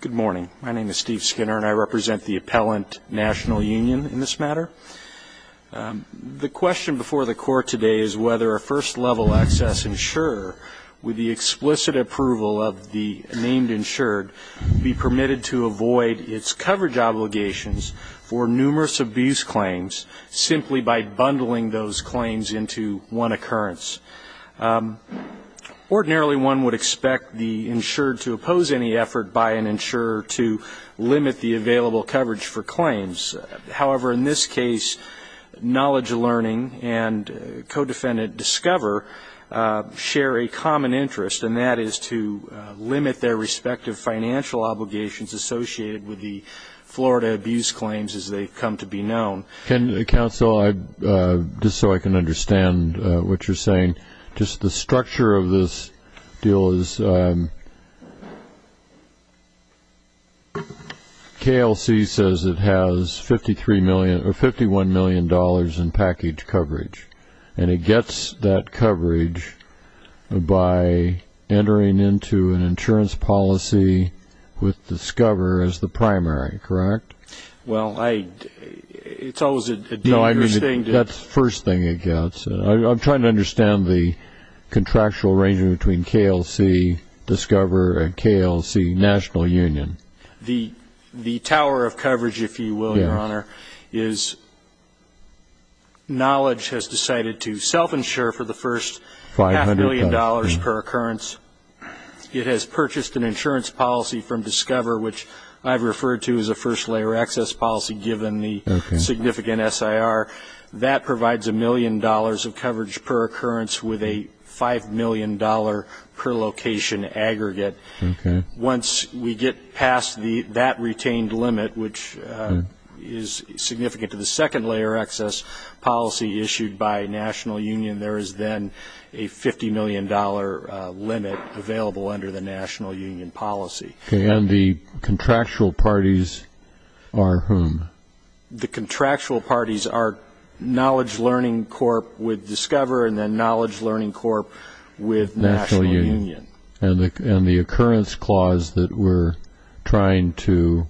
Good morning. My name is Steve Skinner and I represent the Appellant National Union in this matter. The question before the Court today is whether a first-level access insurer, with the explicit approval of the named insured, be permitted to avoid its coverage obligations for numerous abuse claims simply by bundling those claims into one occurrence. Ordinarily, one would expect the insured to oppose any effort by an insurer to limit the available coverage for claims. However, in this case, Knowledge Learning and co-defendant Discover share a common interest, and that is to limit their respective financial obligations associated with the Florida abuse claims as they've come to be known. Counsel, just so I can understand what you're saying, just the structure of this deal is KLC says it has $51 million in package coverage, and it gets that coverage by entering into an insurance policy with Discover as the primary, correct? Well, it's always a dangerous thing to... No, I mean, that's the first thing it gets. I'm trying to understand the contractual arrangement between KLC, Discover, and KLC National Union. The tower of coverage, if you will, Your Honor, is Knowledge has decided to self-insure for the first half-million dollars per occurrence. It has purchased an insurance policy from Discover, which I've referred to as a first-layer access policy, given the significant SIR. That provides a million dollars of coverage per occurrence with a $5 million per location aggregate. Once we get past that retained limit, which is significant to the second-layer access policy issued by National Union, there is then a $50 million limit available under the National Union policy. And the contractual parties are whom? The contractual parties are Knowledge Learning Corp. with Discover and then Knowledge Learning Corp. with National Union. And the occurrence clause that we're trying to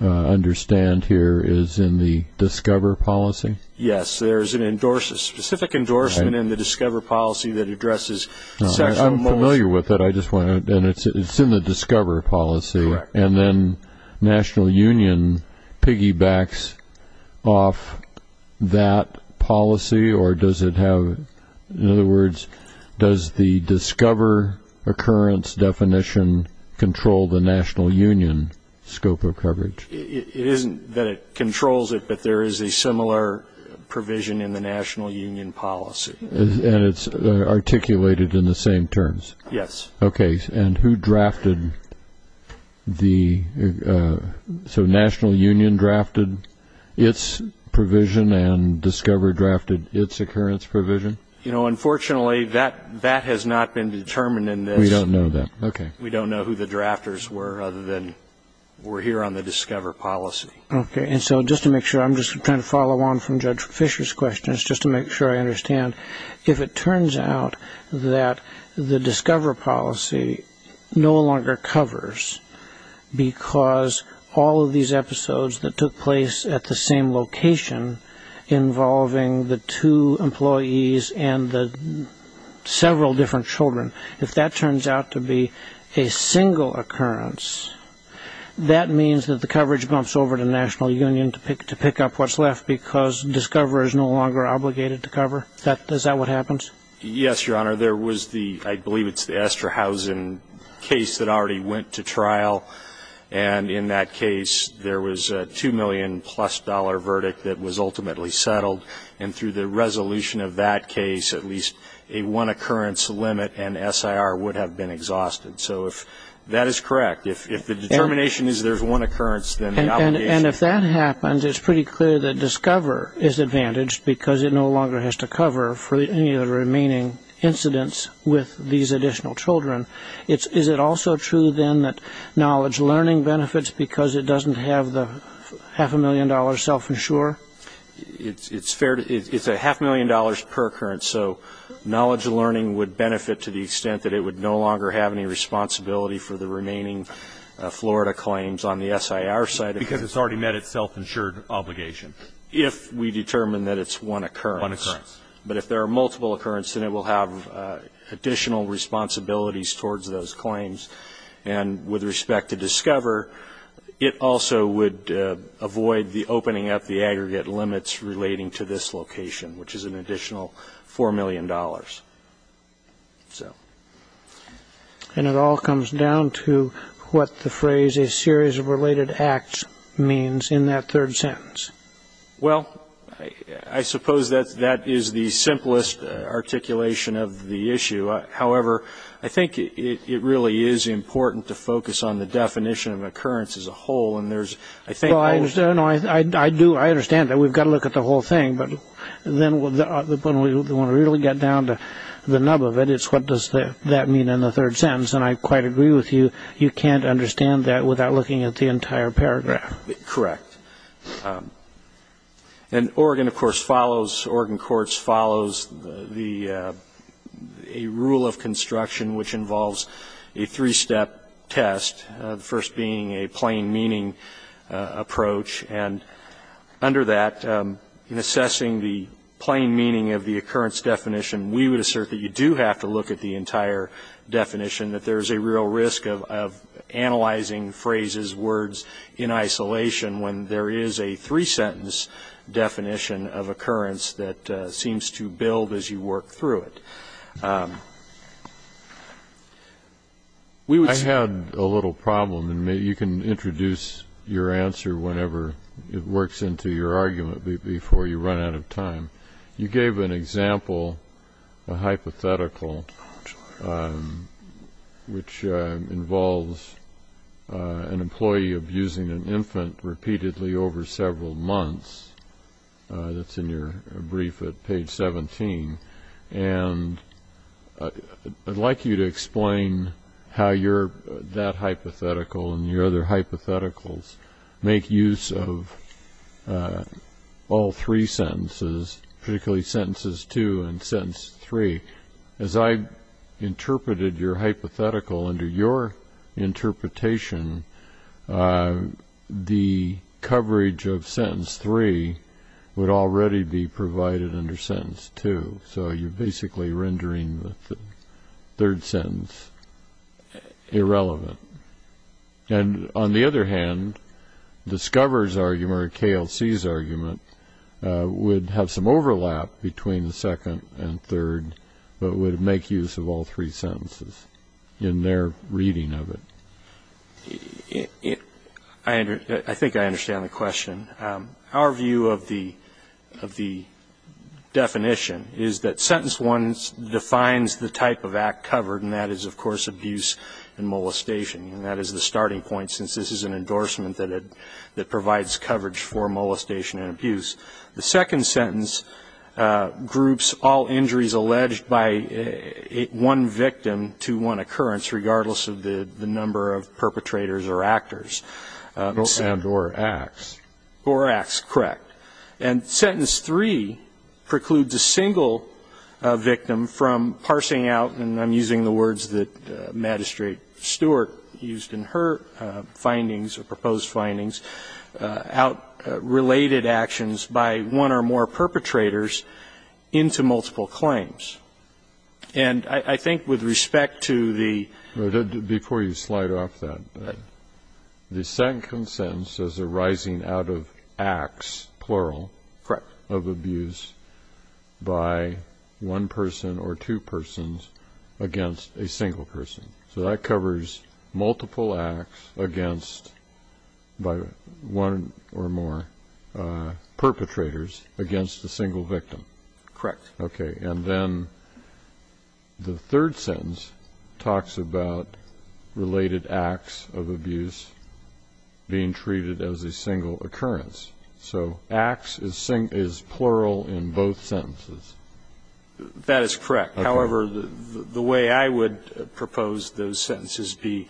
understand here is in the Discover policy? Yes, there is a specific endorsement in the Discover policy that addresses sexual... I'm familiar with it. It's in the Discover policy. Correct. And then National Union piggybacks off that policy, or does it have... In other words, does the Discover occurrence definition control the National Union scope of coverage? It isn't that it controls it, but there is a similar provision in the National Union policy. And it's articulated in the same terms? Yes. Okay. And who drafted the... So National Union drafted its provision and Discover drafted its occurrence provision? You know, unfortunately, that has not been determined in this. We don't know that. Okay. We don't know who the drafters were other than we're here on the Discover policy. Okay. And so just to make sure, I'm just trying to follow on from Judge Fisher's questions just to make sure I understand. If it turns out that the Discover policy no longer covers because all of these episodes that took place at the same location involving the two employees and the several different children, if that turns out to be a single occurrence, that means that the coverage bumps over to National Union to pick up what's left because Discover is no longer obligated to cover? Is that what happens? Yes, Your Honor. There was the... I believe it's the Estrahausen case that already went to trial. And in that case, there was a $2 million-plus verdict that was ultimately settled. And through the resolution of that case, at least a one-occurrence limit and SIR would have been exhausted. So if that is correct, if the determination is there's one occurrence, then the obligation... And if that happens, it's pretty clear that Discover is advantaged because it no longer has to cover for any of the remaining incidents with these additional children. Is it also true, then, that knowledge learning benefits because it doesn't have the half-a-million-dollar self-insure? It's a half-million dollars per occurrence. So knowledge learning would benefit to the extent that it would no longer have any responsibility for the remaining Florida claims on the SIR side. Because it's already met its self-insured obligation. One occurrence. But if there are multiple occurrence, then it will have additional responsibilities towards those claims. And with respect to Discover, it also would avoid the opening up the aggregate limits relating to this location, which is an additional $4 million. And it all comes down to what the phrase, a series of related acts, means in that third sentence? Well, I suppose that is the simplest articulation of the issue. However, I think it really is important to focus on the definition of occurrence as a whole. And there's, I think... Well, I understand that. We've got to look at the whole thing. But when we really get down to the nub of it, it's what does that mean in the third sentence. And I quite agree with you. You can't understand that without looking at the entire paragraph. Correct. And Oregon, of course, follows, Oregon Courts follows a rule of construction which involves a three-step test, the first being a plain meaning approach. And under that, in assessing the plain meaning of the occurrence definition, we would assert that you do have to look at the entire definition, that there's a real risk of analyzing phrases, words, in isolation, when there is a three-sentence definition of occurrence that seems to build as you work through it. I had a little problem. And maybe you can introduce your answer whenever it works into your argument before you run out of time. You gave an example, a hypothetical, which involves an employee abusing an infant repeatedly over several months. That's in your brief at page 17. And I'd like you to explain how that hypothetical and your other hypotheticals make use of all three sentences, particularly sentences two and sentence three. As I interpreted your hypothetical under your interpretation, the coverage of sentence three would already be provided under sentence two, so you're basically rendering the third sentence irrelevant. And on the other hand, the Scover's argument, or KLC's argument, would have some overlap between the second and third, but would make use of all three sentences in their reading of it. I think I understand the question. Our view of the definition is that sentence one defines the type of act covered, and that is, of course, abuse and molestation, and that is the starting point since this is an endorsement that provides coverage for molestation and abuse. The second sentence groups all injuries alleged by one victim to one occurrence, regardless of the number of perpetrators or actors. And or acts. Or acts, correct. And sentence three precludes a single victim from parsing out, and I'm using the words that Magistrate Stewart used in her findings or proposed findings, out related actions by one or more perpetrators into multiple claims. And I think with respect to the. Before you slide off that, the second sentence is arising out of acts, plural. Correct. Of abuse by one person or two persons against a single person. So that covers multiple acts against by one or more perpetrators against a single victim. Correct. Okay. And then the third sentence talks about related acts of abuse being treated as a single occurrence. So acts is plural in both sentences. That is correct. However, the way I would propose those sentences be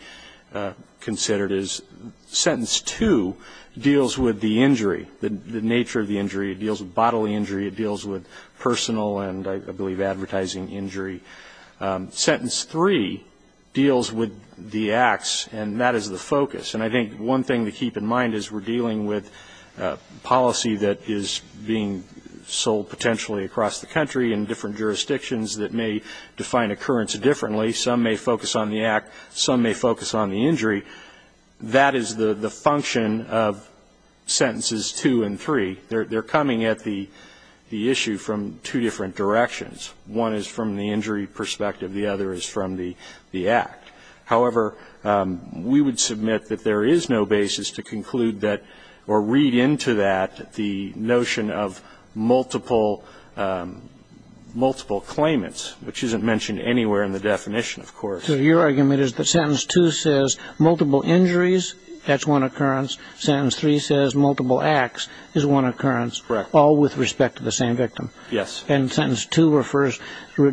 considered is sentence two deals with the injury, the nature of the injury. It deals with bodily injury. It deals with personal and I believe advertising injury. Sentence three deals with the acts, and that is the focus. And I think one thing to keep in mind is we're dealing with policy that is being sold potentially across the country in different jurisdictions that may define occurrence differently. Some may focus on the act. Some may focus on the injury. That is the function of sentences two and three. They're coming at the issue from two different directions. One is from the injury perspective. The other is from the act. However, we would submit that there is no basis to conclude that or read into that the notion of multiple claimants, which isn't mentioned anywhere in the definition, of course. So your argument is that sentence two says multiple injuries, that's one occurrence. Sentence three says multiple acts is one occurrence. Correct. All with respect to the same victim. Yes. And sentence two refers,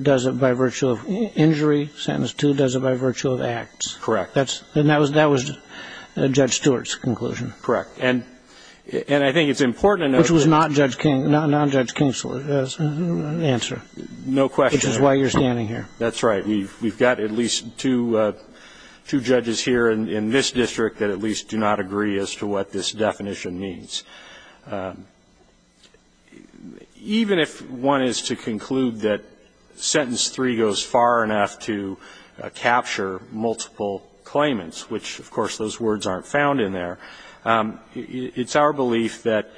does it by virtue of injury. Sentence two does it by virtue of acts. Correct. And that was Judge Stewart's conclusion. Correct. And I think it's important to note. Which was not Judge King's answer. No question. Which is why you're standing here. That's right. We've got at least two judges here in this district that at least do not agree as to what this definition means. Even if one is to conclude that sentence three goes far enough to capture multiple claimants, which of course those words aren't found in there, it's our belief that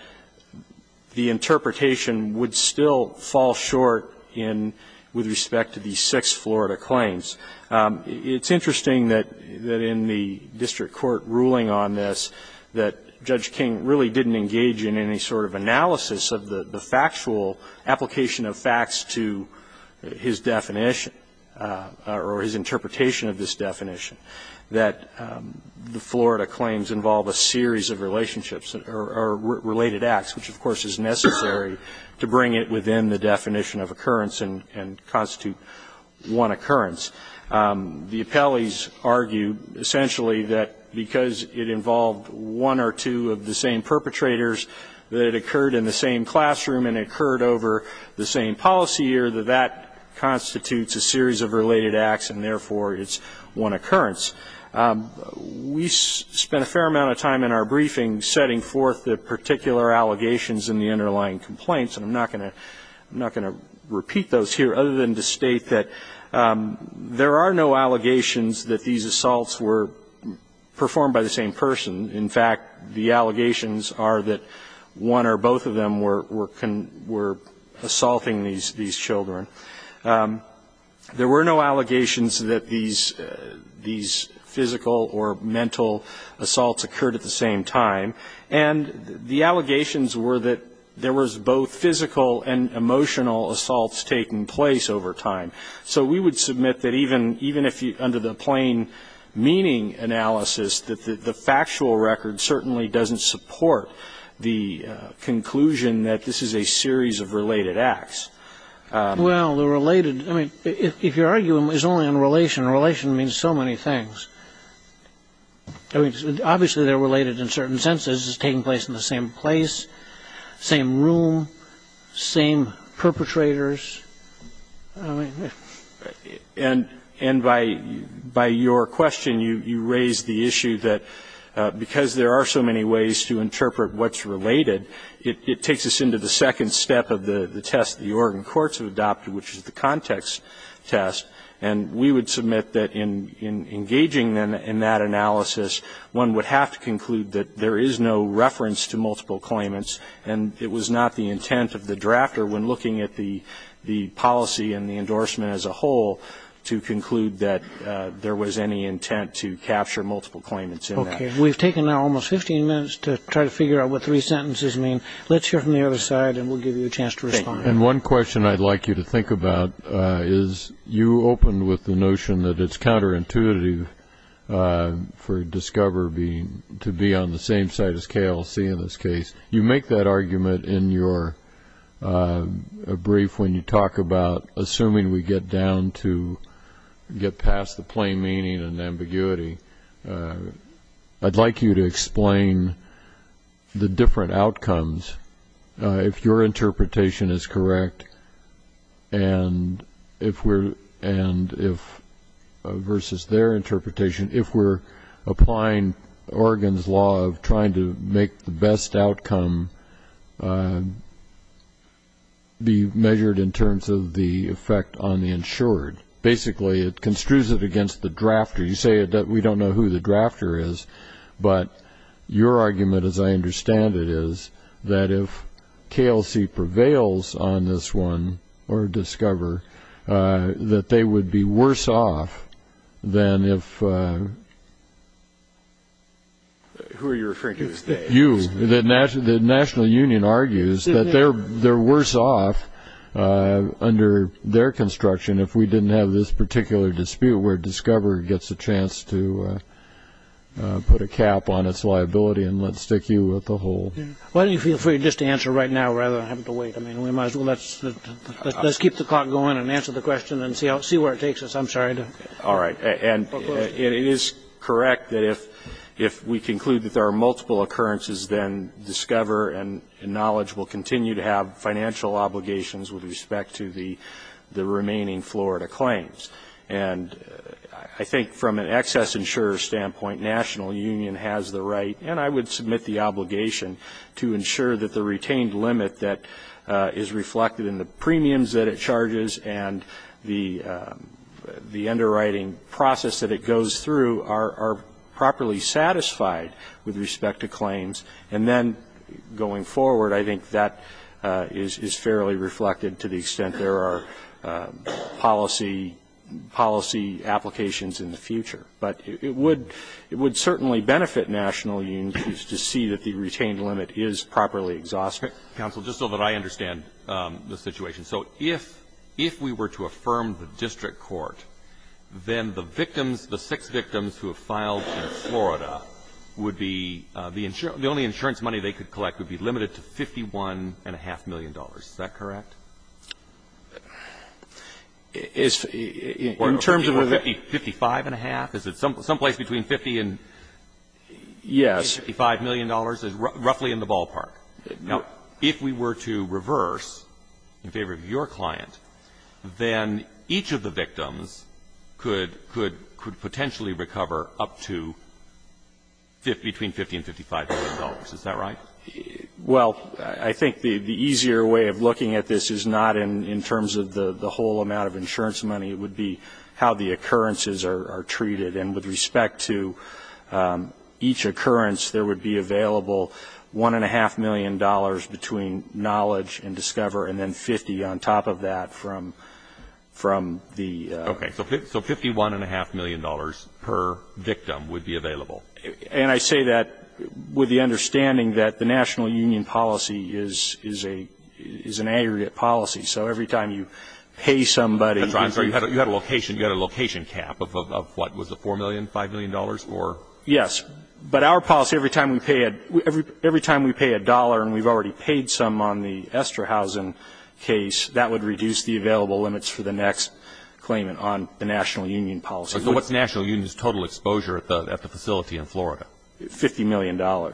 the interpretation would still fall short with respect to these six Florida claims. It's interesting that in the district court ruling on this, that Judge King really didn't engage in any sort of analysis of the factual application of facts to his definition or his interpretation of this definition. That the Florida claims involve a series of relationships or related acts, which of course is necessary to bring it within the definition of occurrence and constitute one occurrence. The appellees argued essentially that because it involved one or two of the same perpetrators that occurred in the same classroom and occurred over the same policy year, that that constitutes a series of related acts and therefore it's one occurrence. We spent a fair amount of time in our briefing setting forth the particular allegations in the underlying complaints. And I'm not going to repeat those here other than to state that there are no allegations that these assaults were performed by the same person. In fact, the allegations are that one or both of them were assaulting these children. There were no allegations that these physical or mental assaults occurred at the same time. And the allegations were that there was both physical and emotional assaults taking place over time. So we would submit that even if you, under the plain meaning analysis, that the factual record certainly doesn't support the conclusion that this is a series of related acts. Well, the related, I mean, if your argument is only in relation, relation means so many things. I mean, obviously they're related in certain senses. This is taking place in the same place, same room, same perpetrators. I mean. And by your question, you raise the issue that because there are so many ways to interpret what's related, it takes us into the second step of the test the Oregon courts have adopted, which is the context test. And we would submit that in engaging in that analysis, one would have to conclude that there is no reference to multiple claimants, and it was not the intent of the drafter when looking at the policy and the endorsement as a whole, to conclude that there was any intent to capture multiple claimants in that. Okay. We've taken now almost 15 minutes to try to figure out what three sentences mean. Let's hear from the other side, and we'll give you a chance to respond. And one question I'd like you to think about is you opened with the notion that it's counterintuitive for Discover to be on the same side as KLC in this case. You make that argument in your brief when you talk about assuming we get down to get past the plain meaning and ambiguity. I'd like you to explain the different outcomes. If your interpretation is correct versus their interpretation, if we're applying Oregon's law of trying to make the best outcome be measured in terms of the effect on the insured, basically it construes it against the drafter. You say that we don't know who the drafter is, but your argument, as I understand it, is that if KLC prevails on this one or Discover, that they would be worse off than if you, the National Union argues, that they're worse off under their construction if we didn't have this particular dispute where Discover gets a chance to put a cap on its liability and let's stick you with the whole. Why don't you feel free just to answer right now rather than having to wait? I mean, we might as well let's keep the clock going and answer the question and see where it takes us. I'm sorry. All right. And it is correct that if we conclude that there are multiple occurrences, then Discover and Knowledge will continue to have financial obligations with respect to the remaining Florida claims. And I think from an excess insurer standpoint, National Union has the right, and I would submit the obligation, to ensure that the retained limit that is reflected in the premiums that it charges and the underwriting process that it goes through are properly satisfied with respect to claims. And then going forward, I think that is fairly reflected to the extent there are policy applications in the future. But it would certainly benefit National Union to see that the retained limit is properly exhausted. Counsel, just so that I understand the situation. So if, if we were to affirm the district court, then the victims, the six victims who have filed in Florida would be, the only insurance money they could collect would be limited to $51.5 million. Is that correct? In terms of the 55.5? Is it someplace between 50 and $55 million? Yes. It's roughly in the ballpark. Now, if we were to reverse, in favor of your client, then each of the victims could, could, could potentially recover up to between 50 and $55 million. Is that right? Well, I think the easier way of looking at this is not in terms of the whole amount of insurance money. It would be how the occurrences are treated. And with respect to each occurrence, there would be available $1.5 million between knowledge and discover and then 50 on top of that from, from the. Okay. So $51.5 million per victim would be available. And I say that with the understanding that the National Union policy is, is a, is an aggregate policy. So every time you pay somebody. I'm sorry, you had a, you had a location, you had a location cap of, of, of what? Was it $4 million, $5 million or? Yes. But our policy, every time we pay a, every, every time we pay a dollar and we've already paid some on the Estrahausen case, that would reduce the available limits for the next claimant on the National Union policy. So what's National Union's total exposure at the, at the facility in Florida? $50 million. Oh,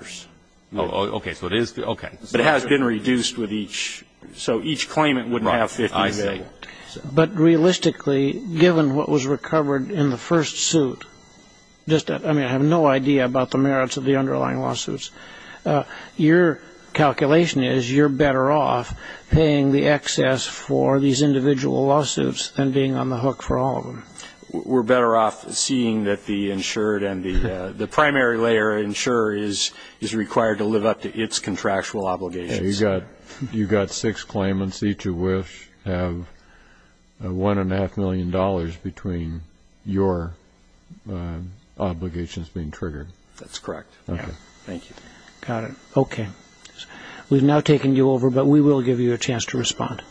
okay. So it is, okay. But it has been reduced with each. So each claimant wouldn't have $50 million. But realistically, given what was recovered in the first suit, just, I mean, I have no idea about the merits of the underlying lawsuits. Your calculation is you're better off paying the excess for these individual lawsuits than being on the hook for all of them. We're better off seeing that the insured and the, the primary layer insurer is, is required to live up to its contractual obligations. So you've got, you've got six claimants. Each of which have $1.5 million between your obligations being triggered. That's correct. Okay. Thank you. Got it. Okay. We've now taken you over, but we will give you a chance to respond.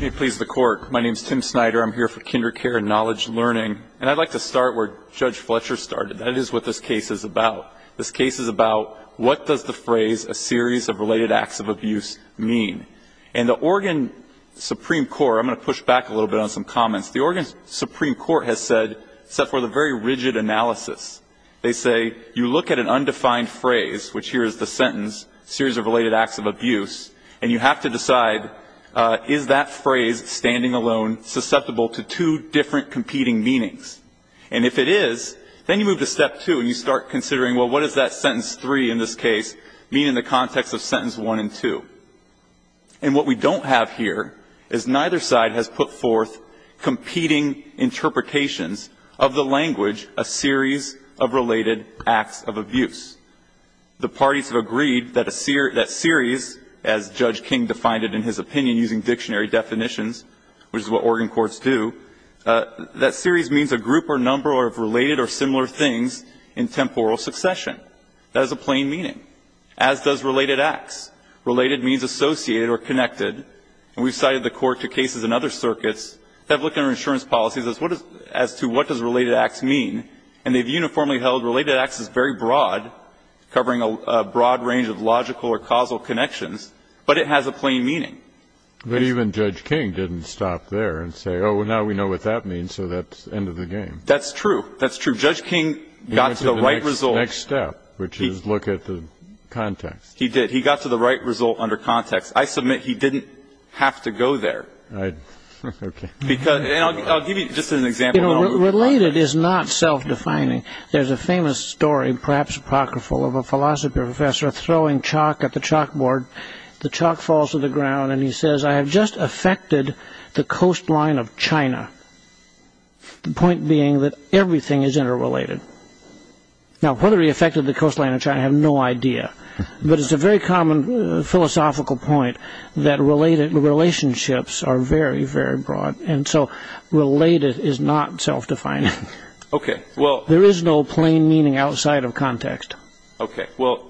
May it please the Court. My name is Tim Snyder. I'm here for Kindercare and Knowledge Learning. And I'd like to start where Judge Fletcher started. That is what this case is about. This case is about what does the phrase a series of related acts of abuse mean. And the Oregon Supreme Court, I'm going to push back a little bit on some comments. The Oregon Supreme Court has said, set forth a very rigid analysis. They say you look at an undefined phrase, which here is the sentence, series of related acts of abuse, and you have to decide is that phrase, standing alone, susceptible to two different competing meanings. And if it is, then you move to step two and you start considering, well, what does that sentence three in this case mean in the context of sentence one and two. And what we don't have here is neither side has put forth competing interpretations of the language a series of related acts of abuse. The parties have agreed that a series, as Judge King defined it in his opinion using dictionary definitions, which is what Oregon courts do, that series means a group or number of related or similar things in temporal succession. That is a plain meaning, as does related acts. Related means associated or connected. And we've cited the court to cases in other circuits that have looked under insurance policies as to what does related acts mean. And they've uniformly held related acts is very broad, covering a broad range of logical or causal connections, but it has a plain meaning. But even Judge King didn't stop there and say, oh, well, now we know what that means, and so that's the end of the game. That's true. That's true. Judge King got to the right result. He went to the next step, which is look at the context. He did. He got to the right result under context. I submit he didn't have to go there. Right. Okay. And I'll give you just an example. You know, related is not self-defining. There's a famous story, perhaps apocryphal, of a philosophy professor throwing chalk at the chalkboard. The chalk falls to the ground, and he says, I have just affected the coastline of China, the point being that everything is interrelated. Now, whether he affected the coastline of China, I have no idea, but it's a very common philosophical point that related relationships are very, very broad, and so related is not self-defining. Okay. Well, there is no plain meaning outside of context. Okay. Well,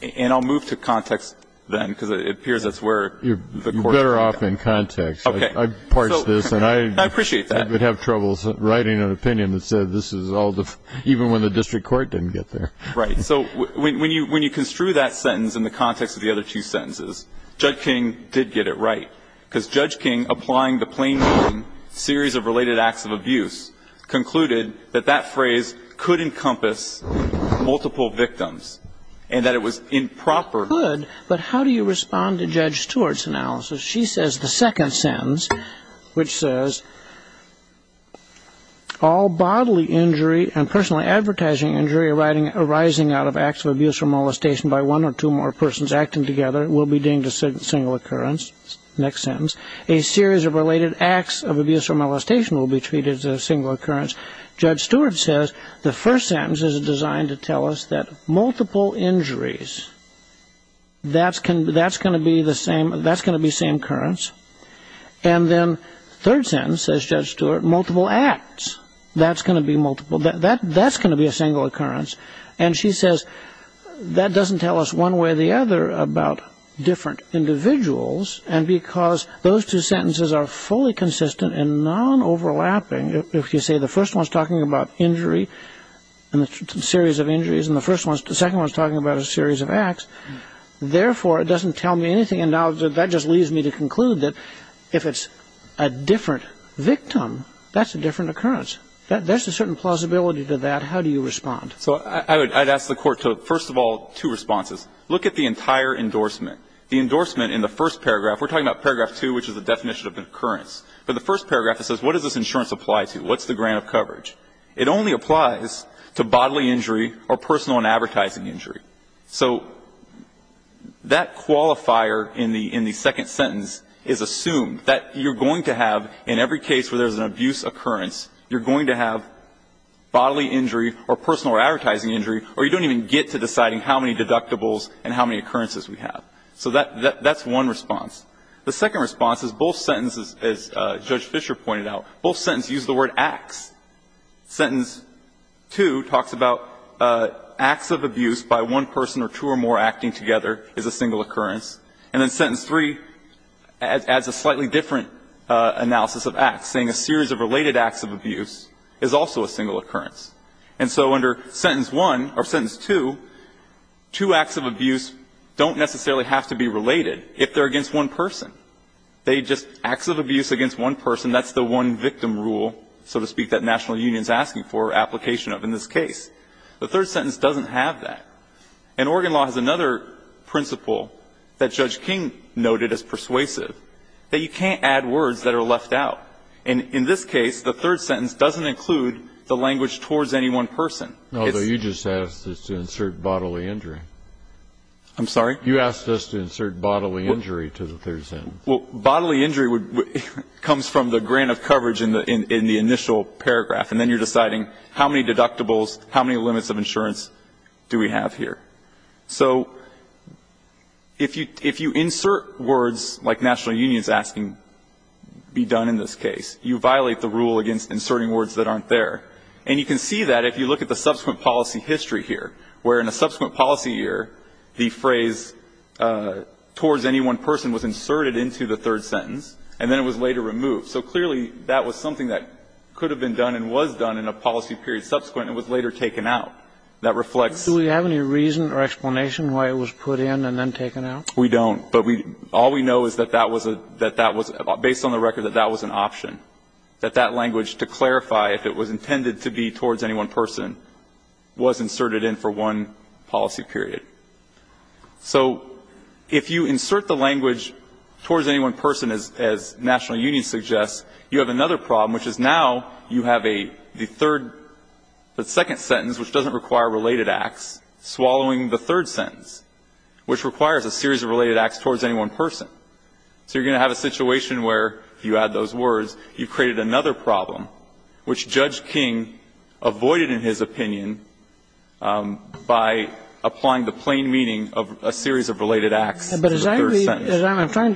and I'll move to context then, because it appears that's where the court is. You're better off in context. Okay. I've parsed this, and I would have trouble writing an opinion that said this is all, even when the district court didn't get there. Right. So when you construe that sentence in the context of the other two sentences, Judge King did get it right, because Judge King, applying the plain meaning series of related acts of abuse, concluded that that phrase could encompass multiple victims, and that it was improper. It could, but how do you respond to Judge Stewart's analysis? She says the second sentence, which says, all bodily injury and personally advertising injury arising out of acts of abuse or molestation by one or two more persons acting together will be deemed a single occurrence. Next sentence. A series of related acts of abuse or molestation will be treated as a single occurrence. Judge Stewart says the first sentence is designed to tell us that multiple injuries, that's going to be the same, that's going to be same occurrence. And then third sentence, says Judge Stewart, multiple acts, that's going to be multiple, that's going to be a single occurrence. And she says that doesn't tell us one way or the other about different individuals, and because those two sentences are fully consistent and non-overlapping, if you say the first one's talking about injury, and a series of injuries, and the second one's talking about a series of acts, therefore, it doesn't tell me anything. And now that just leaves me to conclude that if it's a different victim, that's a different occurrence. There's a certain plausibility to that. How do you respond? So I'd ask the Court to, first of all, two responses. Look at the entire endorsement. The endorsement in the first paragraph, we're talking about paragraph two, which is the definition of an occurrence. But the first paragraph, it says, what does this insurance apply to? What's the grant of coverage? It only applies to bodily injury or personal and advertising injury. So that qualifier in the second sentence is assumed, that you're going to have in every case where there's an abuse occurrence, you're going to have bodily injury or personal or advertising injury, or you don't even get to deciding how many deductibles and how many occurrences we have. So that's one response. The second response is both sentences, as Judge Fischer pointed out, both sentences use the word acts. Sentence two talks about acts of abuse by one person or two or more acting together is a single occurrence. And then sentence three adds a slightly different analysis of acts, saying a series of related acts of abuse is also a single occurrence. And so under sentence one, or sentence two, two acts of abuse don't necessarily have to be related if they're against one person. They just, acts of abuse against one person, that's the one victim rule, so to speak, that national union is asking for application of in this case. The third sentence doesn't have that. And Oregon law has another principle that Judge King noted as persuasive, that you can't add words that are left out. And in this case, the third sentence doesn't include the language towards any one person. It's not. Kennedy, you just asked us to insert bodily injury. I'm sorry? You asked us to insert bodily injury to the third sentence. Well, bodily injury would, comes from the grant of coverage in the initial paragraph, and then you're deciding how many deductibles, how many limits of insurance do we have So if you, if you insert words like national union is asking be done in this case, you violate the rule against inserting words that aren't there. And you can see that if you look at the subsequent policy history here, where in a subsequent policy year, the phrase towards any one person was inserted into the third sentence and then it was later removed. So clearly that was something that could have been done and was done in a policy period subsequent and was later taken out. That reflects. Do we have any reason or explanation why it was put in and then taken out? We don't. But we, all we know is that that was a, that that was, based on the record, that that was an option. That that language, to clarify, if it was intended to be towards any one person, was inserted in for one policy period. So if you insert the language towards any one person, as national union suggests, you have another problem, which is now you have a, the third, the second sentence, which doesn't require related acts, swallowing the third sentence, which requires a series of related acts towards any one person. So you're going to have a situation where, if you add those words, you've created another problem, which Judge King avoided, in his opinion, by applying the plain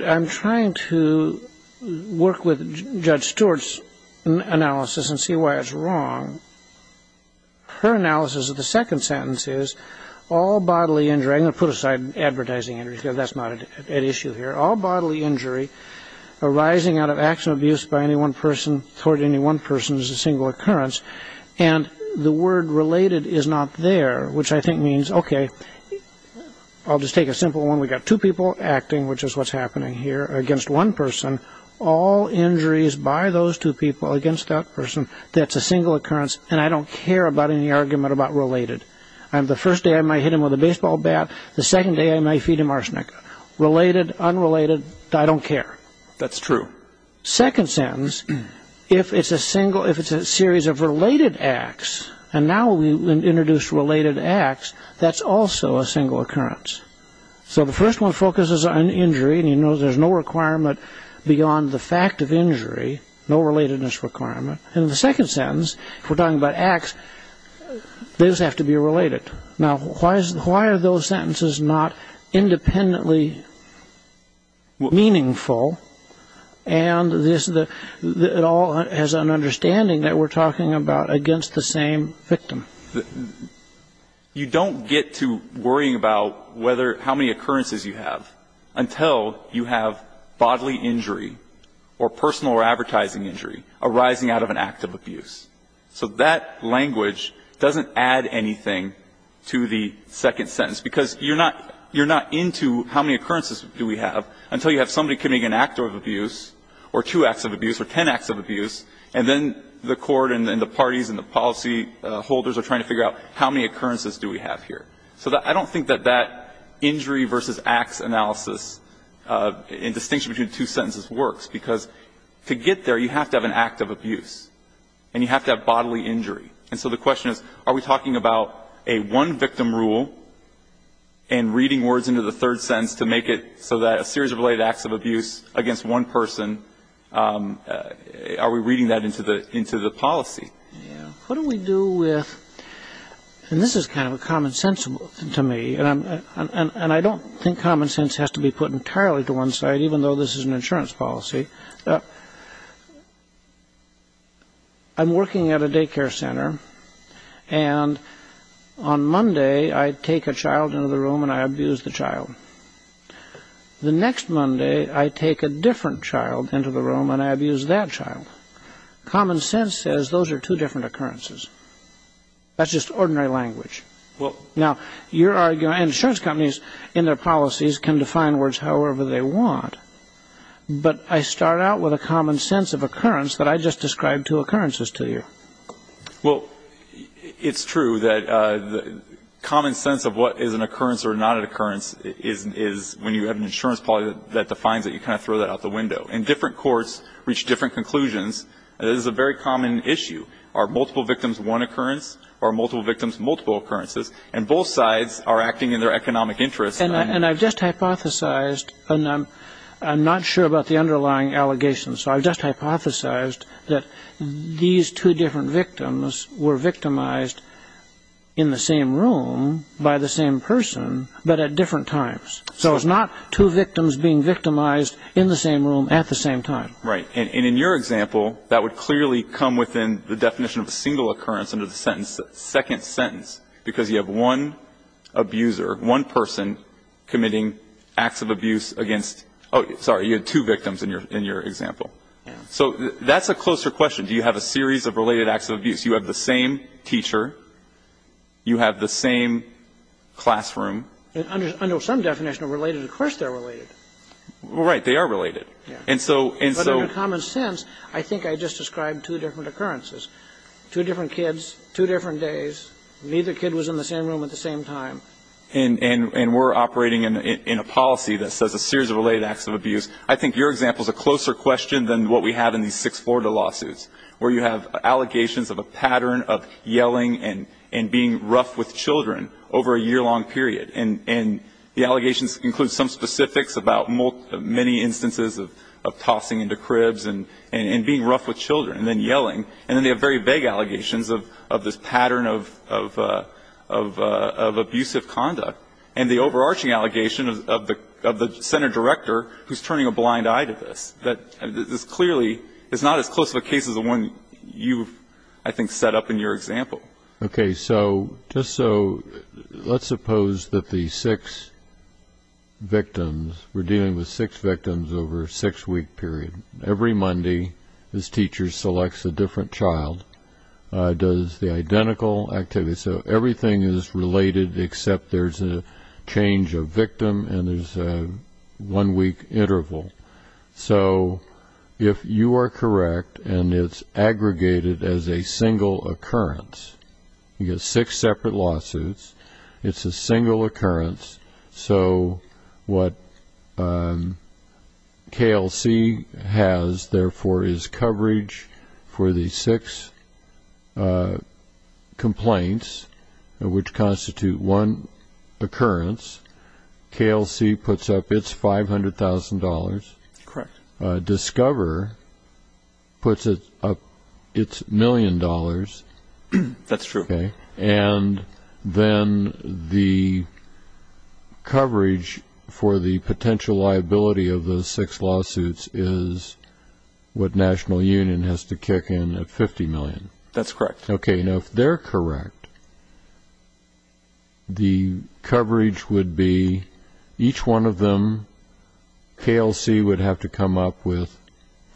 I'm trying to work with Judge Stewart's analysis and see why it's wrong. Her analysis of the second sentence is, all bodily injury, I'm going to put aside advertising injuries because that's not at issue here, all bodily injury arising out of acts of abuse by any one person toward any one person is a single occurrence, and the word related is not there, which I think means, okay, I'll just take a simple one, we've got two people acting, which is what's happening here, against one person, all injuries by those two people against that person, that's a single occurrence, and I don't care about any argument about related. The first day I might hit him with a baseball bat, the second day I might feed him arsenic. Related, unrelated, I don't care. That's true. Second sentence, if it's a single, if it's a series of related acts, and now we introduce related acts, that's also a single occurrence. So the first one focuses on injury, and you know there's no requirement beyond the fact of injury, no relatedness requirement, and the second sentence, if we're talking about acts, those have to be related. Now, why are those sentences not independently meaningful, and it all has an understanding that we're talking about against the same victim? You don't get to worrying about whether, how many occurrences you have until you have bodily injury or personal or advertising injury arising out of an act of abuse. So that language doesn't add anything to the second sentence, because you're not into how many occurrences do we have until you have somebody committing an act of abuse or two acts of abuse or ten acts of abuse, and then the court and the parties and the policy holders are trying to figure out how many occurrences do we have here. So I don't think that that injury versus acts analysis in distinction between two sentences works, because to get there, you have to have an act of abuse, and you have to have bodily injury. And so the question is, are we talking about a one-victim rule and reading words into the Are we reading that into the policy? Yeah. What do we do with, and this is kind of a common sense to me, and I don't think common sense has to be put entirely to one side, even though this is an insurance policy. I'm working at a daycare center, and on Monday, I take a child into the room and I abuse the child. The next Monday, I take a different child into the room and I abuse that child. Common sense says those are two different occurrences. That's just ordinary language. Now, insurance companies in their policies can define words however they want, but I start out with a common sense of occurrence that I just described two occurrences to you. Well, it's true that common sense of what is an occurrence or not an occurrence is when you have an insurance policy that defines it, you kind of throw that out the window. And different courts reach different conclusions. This is a very common issue. Are multiple victims one occurrence? Are multiple victims multiple occurrences? And both sides are acting in their economic interests. And I've just hypothesized, and I'm not sure about the underlying allegations, so I've just hypothesized that these two different victims were victimized in the same room by the same person, but at different times. So it's not two victims being victimized in the same room at the same time. Right. And in your example, that would clearly come within the definition of a single occurrence under the second sentence, because you have one abuser, one person committing acts of abuse against, oh, sorry, you had two victims in your example. Yeah. So that's a closer question. Do you have a series of related acts of abuse? You have the same teacher. You have the same classroom. Under some definition of related, of course they're related. Right. They are related. Yeah. But under common sense, I think I just described two different occurrences. Two different kids, two different days. Neither kid was in the same room at the same time. And we're operating in a policy that says a series of related acts of abuse. I think your example is a closer question than what we have in these six Florida lawsuits, where you have allegations of a pattern of yelling and being rough with children over a year-long period. And the allegations include some specifics about many instances of tossing into cribs and being rough with children and then yelling. And then they have very vague allegations of this pattern of abusive conduct. And the overarching allegation of the center director who's turning a blind eye to this. This clearly is not as close of a case as the one you've, I think, set up in your example. Okay. So just so let's suppose that the six victims, we're dealing with six victims over a six-week period. Every Monday this teacher selects a different child, does the identical activities. So everything is related except there's a change of victim and there's a one-week interval. So if you are correct and it's aggregated as a single occurrence, you get six separate lawsuits. It's a single occurrence. So what KLC has, therefore, is coverage for the six complaints, which constitute one occurrence. KLC puts up its $500,000. Correct. Discover puts up its million dollars. That's true. Okay. And then the coverage for the potential liability of those six lawsuits is what National Union has to kick in at $50 million. That's correct. Okay. Now, if they're correct, the coverage would be each one of them, KLC would have to come up with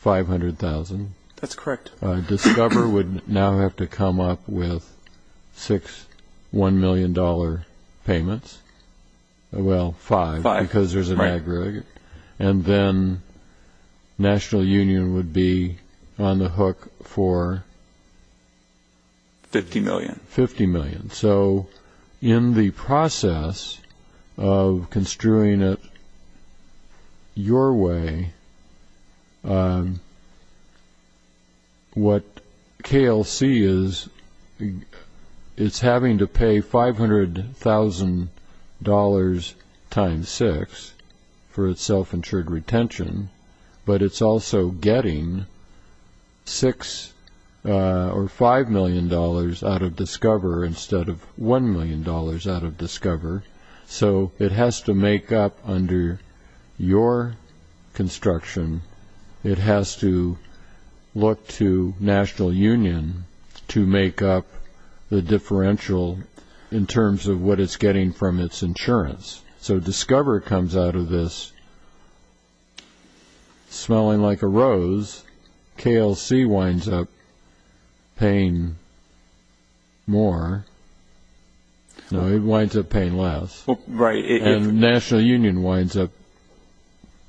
$500,000. That's correct. Discover would now have to come up with six $1 million payments. Well, five because there's an aggregate. And then National Union would be on the hook for... $50 million. So in the process of construing it your way, what KLC is, it's having to pay $500,000 times six for its self-insured retention, but it's also getting $5 million out of Discover instead of $1 million out of Discover. So it has to make up under your construction. It has to look to National Union to make up the differential in terms of what it's getting from its insurance. So Discover comes out of this smelling like a rose. KLC winds up paying more. No, it winds up paying less. Right. And National Union winds up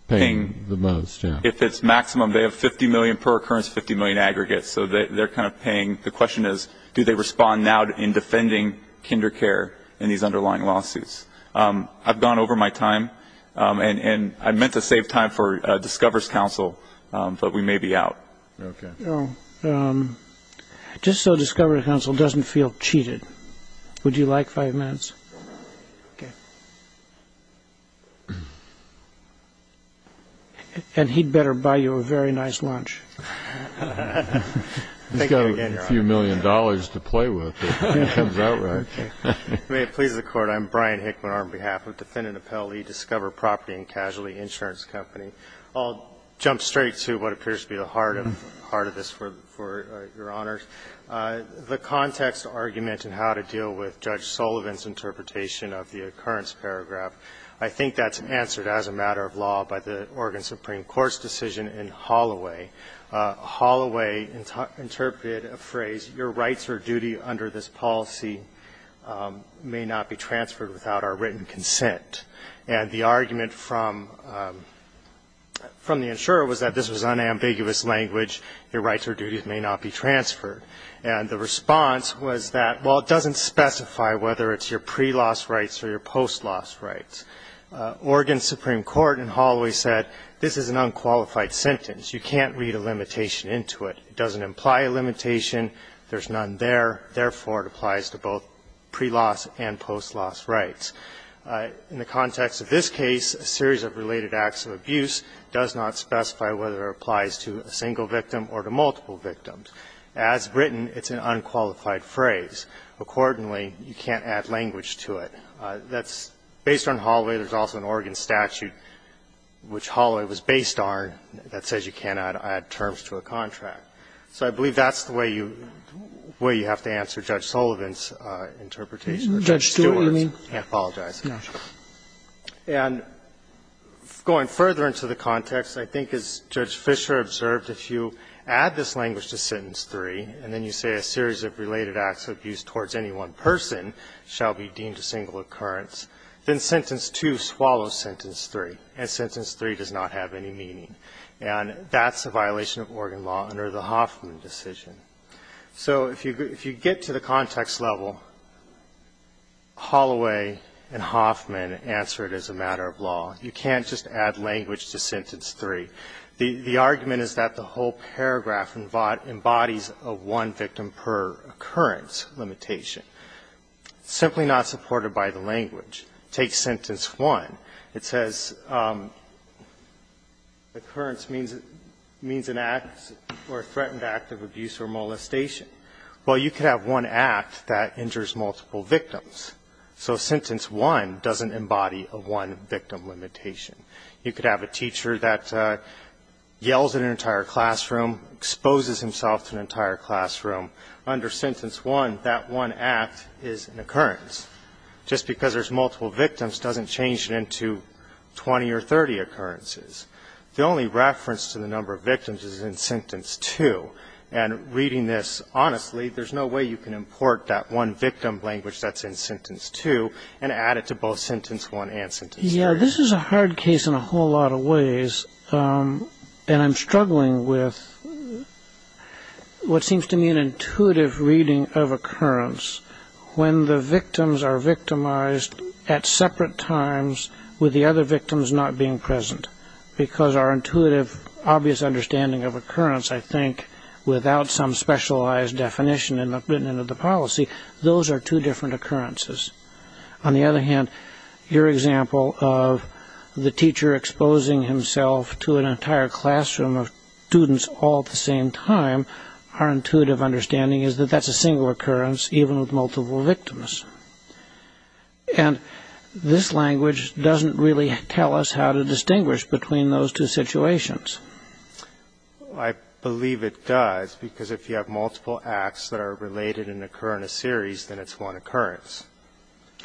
paying the most. If it's maximum, they have $50 million per occurrence, $50 million aggregate. So they're kind of paying. The question is, do they respond now in defending kinder care in these underlying lawsuits? I've gone over my time, and I meant to save time for Discover's counsel, but we may be out. Okay. Just so Discover counsel doesn't feel cheated, would you like five minutes? Okay. And he'd better buy you a very nice lunch. Thank you again, Your Honor. He's got a few million dollars to play with. It comes out right. May it please the Court. I'm Brian Hickman on behalf of Defendant Appellee, Discover Property and Casualty Insurance Company. I'll jump straight to what appears to be the heart of this for Your Honors. The context argument in how to deal with Judge Sullivan's interpretation of the occurrence paragraph, I think that's answered as a matter of law by the Oregon Supreme Court's decision in Holloway. Holloway interpreted a phrase, your rights or duty under this policy may not be transferred without our written consent. And the argument from the insurer was that this was unambiguous language, your rights or duties may not be transferred. And the response was that, well, it doesn't specify whether it's your pre-loss rights or your post-loss rights. Oregon Supreme Court in Holloway said this is an unqualified sentence. You can't read a limitation into it. It doesn't imply a limitation. There's none there. Therefore, it applies to both pre-loss and post-loss rights. In the context of this case, a series of related acts of abuse does not specify whether it applies to a single victim or to multiple victims. As written, it's an unqualified phrase. Accordingly, you can't add language to it. That's based on Holloway. There's also an Oregon statute, which Holloway was based on, that says you cannot add terms to a contract. So I believe that's the way you have to answer Judge Sullivan's interpretation of Judge Stewart's. I apologize. And going further into the context, I think as Judge Fischer observed, if you add this language to Sentence 3 and then you say a series of related acts of abuse towards any one person shall be deemed a single occurrence, then Sentence 2 swallows Sentence 3, and Sentence 3 does not have any meaning. And that's a violation of Oregon law under the Hoffman decision. So if you get to the context level, Holloway and Hoffman answer it as a matter of law. You can't just add language to Sentence 3. The argument is that the whole paragraph embodies a one-victim-per-occurrence limitation. Simply not supported by the language. Take Sentence 1. It says occurrence means an act or a threatened act of abuse or molestation. Well, you could have one act that injures multiple victims. So Sentence 1 doesn't embody a one-victim limitation. You could have a teacher that yells at an entire classroom, exposes himself to an entire classroom. Under Sentence 1, that one act is an occurrence. Just because there's multiple victims doesn't change it into 20 or 30 occurrences. The only reference to the number of victims is in Sentence 2. And reading this honestly, there's no way you can import that one-victim language that's in Sentence 2 and add it to both Sentence 1 and Sentence 3. Yeah, this is a hard case in a whole lot of ways. And I'm struggling with what seems to me an intuitive reading of occurrence. When the victims are victimized at separate times with the other victims not being present. Because our intuitive, obvious understanding of occurrence, I think, without some specialized definition written into the policy, those are two different occurrences. On the other hand, your example of the teacher exposing himself to an entire classroom of students all at the same time, our intuitive understanding is that that's a single occurrence even with multiple victims. And this language doesn't really tell us how to distinguish between those two situations. I believe it does. Because if you have multiple acts that are related and occur in a series, then it's one occurrence.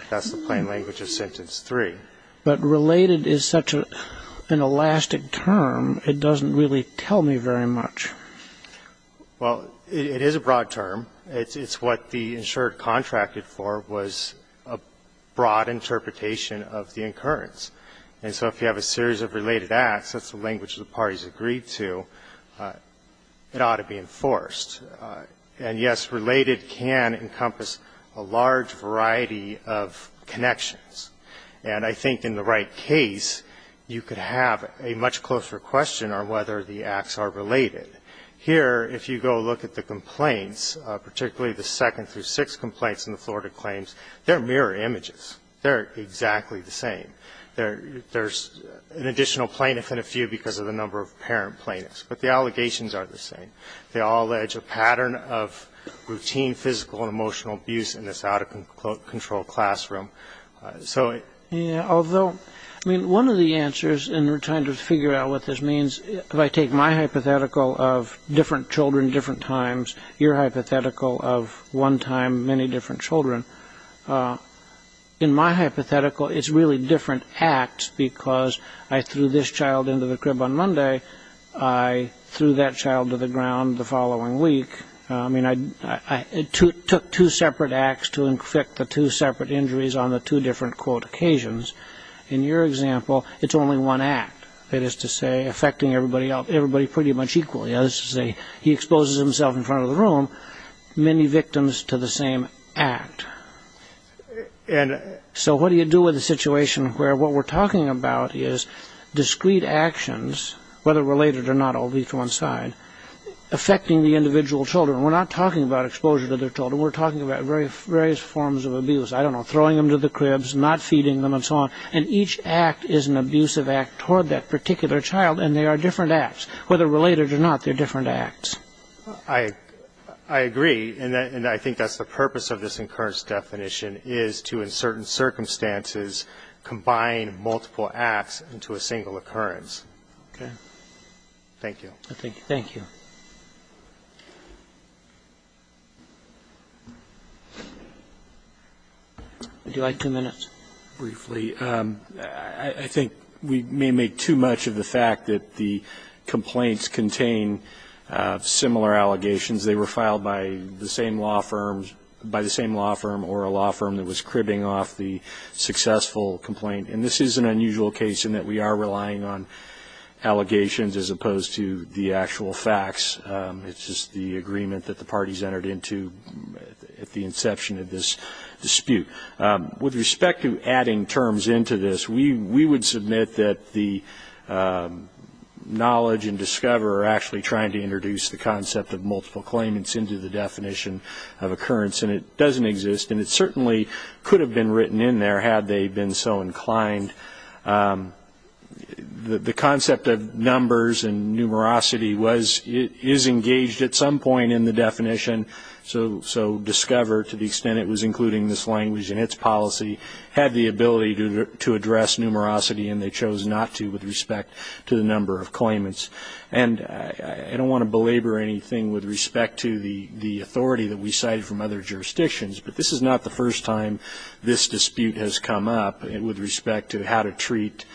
That's the plain language of Sentence 3. But related is such an elastic term, it doesn't really tell me very much. Well, it is a broad term. It's what the insured contracted for was a broad interpretation of the occurrence. And so if you have a series of related acts, that's the language the parties agreed to, it ought to be enforced. And, yes, related can encompass a large variety of connections. And I think in the right case, you could have a much closer question on whether the acts are related. Here, if you go look at the complaints, particularly the second through sixth complaints in the Florida claims, they're mirror images. They're exactly the same. There's an additional plaintiff and a few because of the number of parent plaintiffs. But the allegations are the same. They all allege a pattern of routine physical and emotional abuse in this out-of-control classroom. Yeah, although, I mean, one of the answers, and we're trying to figure out what this means, if I take my hypothetical of different children, different times, your hypothetical of one time, many different children, in my hypothetical, it's really different acts because I threw this child into the crib on Monday. I threw that child to the ground the following week. I mean, I took two separate acts to inflict the two separate injuries on the two different, quote, occasions. In your example, it's only one act. That is to say, affecting everybody pretty much equally. That is to say, he exposes himself in front of the room, many victims to the same act. And so what do you do with a situation where what we're talking about is discrete actions, whether related or not, all lead to one side, affecting the individual children? We're not talking about exposure to their children. We're talking about various forms of abuse. I don't know, throwing them to the cribs, not feeding them, and so on. And each act is an abusive act toward that particular child, and they are different acts. Whether related or not, they're different acts. I agree, and I think that's the purpose of this incurrence definition, is to, in certain circumstances, combine multiple acts into a single occurrence. Okay. Thank you. Thank you. Would you like two minutes? Briefly. I think we may make too much of the fact that the complaints contain similar allegations. They were filed by the same law firm or a law firm that was cribbing off the successful complaint. And this is an unusual case in that we are relying on allegations as opposed to the actual facts. It's just the agreement that the parties entered into at the inception of this dispute. With respect to adding terms into this, we would submit that the knowledge and discover are actually trying to introduce the concept of multiple claimants into the definition of occurrence, and it doesn't exist. And it certainly could have been written in there, had they been so inclined. The concept of numbers and numerosity is engaged at some point in the definition. So discover, to the extent it was including this language in its policy, had the ability to address numerosity, and they chose not to with respect to the number of claimants. And I don't want to belabor anything with respect to the authority that we cited from other jurisdictions, but this is not the first time this dispute has come up with respect to how to treat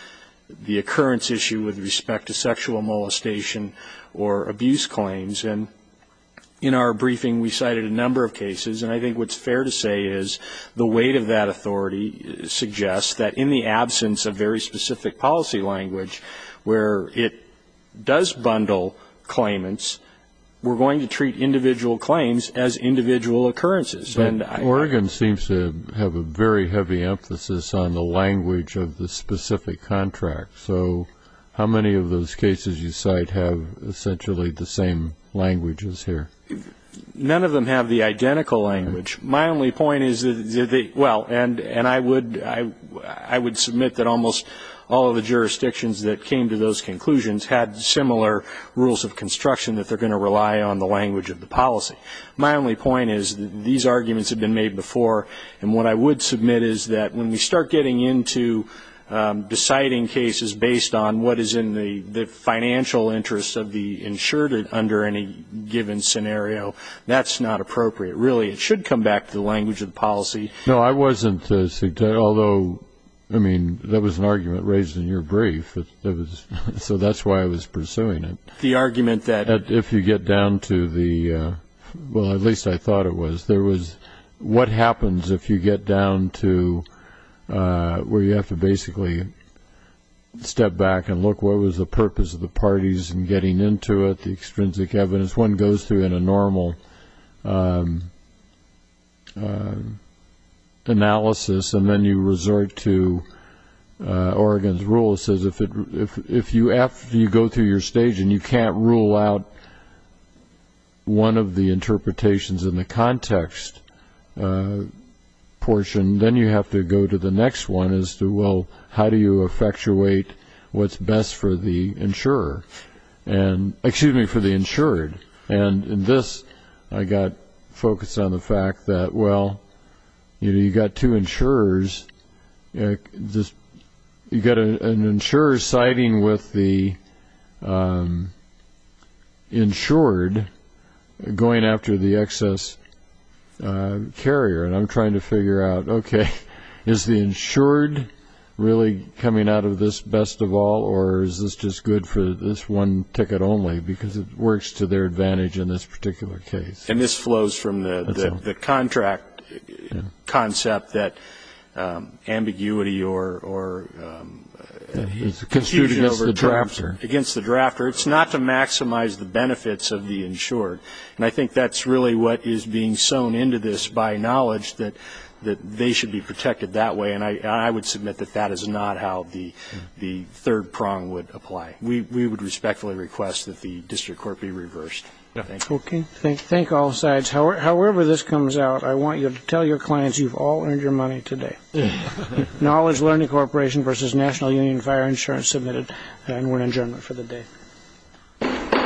the occurrence issue with respect to sexual molestation or abuse claims. And in our briefing, we cited a number of cases, and I think what's fair to say is the weight of that authority suggests that in the absence of very specific policy language where it does bundle claimants, we're going to treat individual claims as individual occurrences. But Oregon seems to have a very heavy emphasis on the language of the specific contract. So how many of those cases you cite have essentially the same languages here? None of them have the identical language. My only point is that they, well, and I would submit that almost all of the jurisdictions that came to those conclusions had similar rules of construction that they're going to rely on the language of the policy. My only point is that these arguments have been made before, and what I would submit is that when we start getting into deciding cases based on what is in the financial interest of the insured under any given scenario, that's not appropriate. Really, it should come back to the language of the policy. No, I wasn't, although, I mean, that was an argument raised in your brief. So that's why I was pursuing it. The argument that if you get down to the, well, at least I thought it was, there was what happens if you get down to where you have to basically step back and look what was the purpose of the parties in getting into it, the extrinsic evidence. This one goes through in a normal analysis, and then you resort to Oregon's rule that says if you go through your stage and you can't rule out one of the interpretations in the context portion, then you have to go to the next one as to, well, how do you effectuate what's best for the insurer, excuse me, for the insured. And in this, I got focused on the fact that, well, you've got two insurers. You've got an insurer siding with the insured going after the excess carrier, and I'm trying to figure out, okay, is the insured really coming out of this best of all, or is this just good for this one ticket only, because it works to their advantage in this particular case. And this flows from the contract concept that ambiguity or confusion against the drafter. It's not to maximize the benefits of the insured, and I think that's really what is being sewn into this by knowledge, that they should be protected that way, and I would submit that that is not how the third prong would apply. We would respectfully request that the district court be reversed. Thank you. Okay. Thank all sides. However this comes out, I want you to tell your clients you've all earned your money today. Knowledge Learning Corporation versus National Union Fire Insurance submitted, and we're adjourned for the day.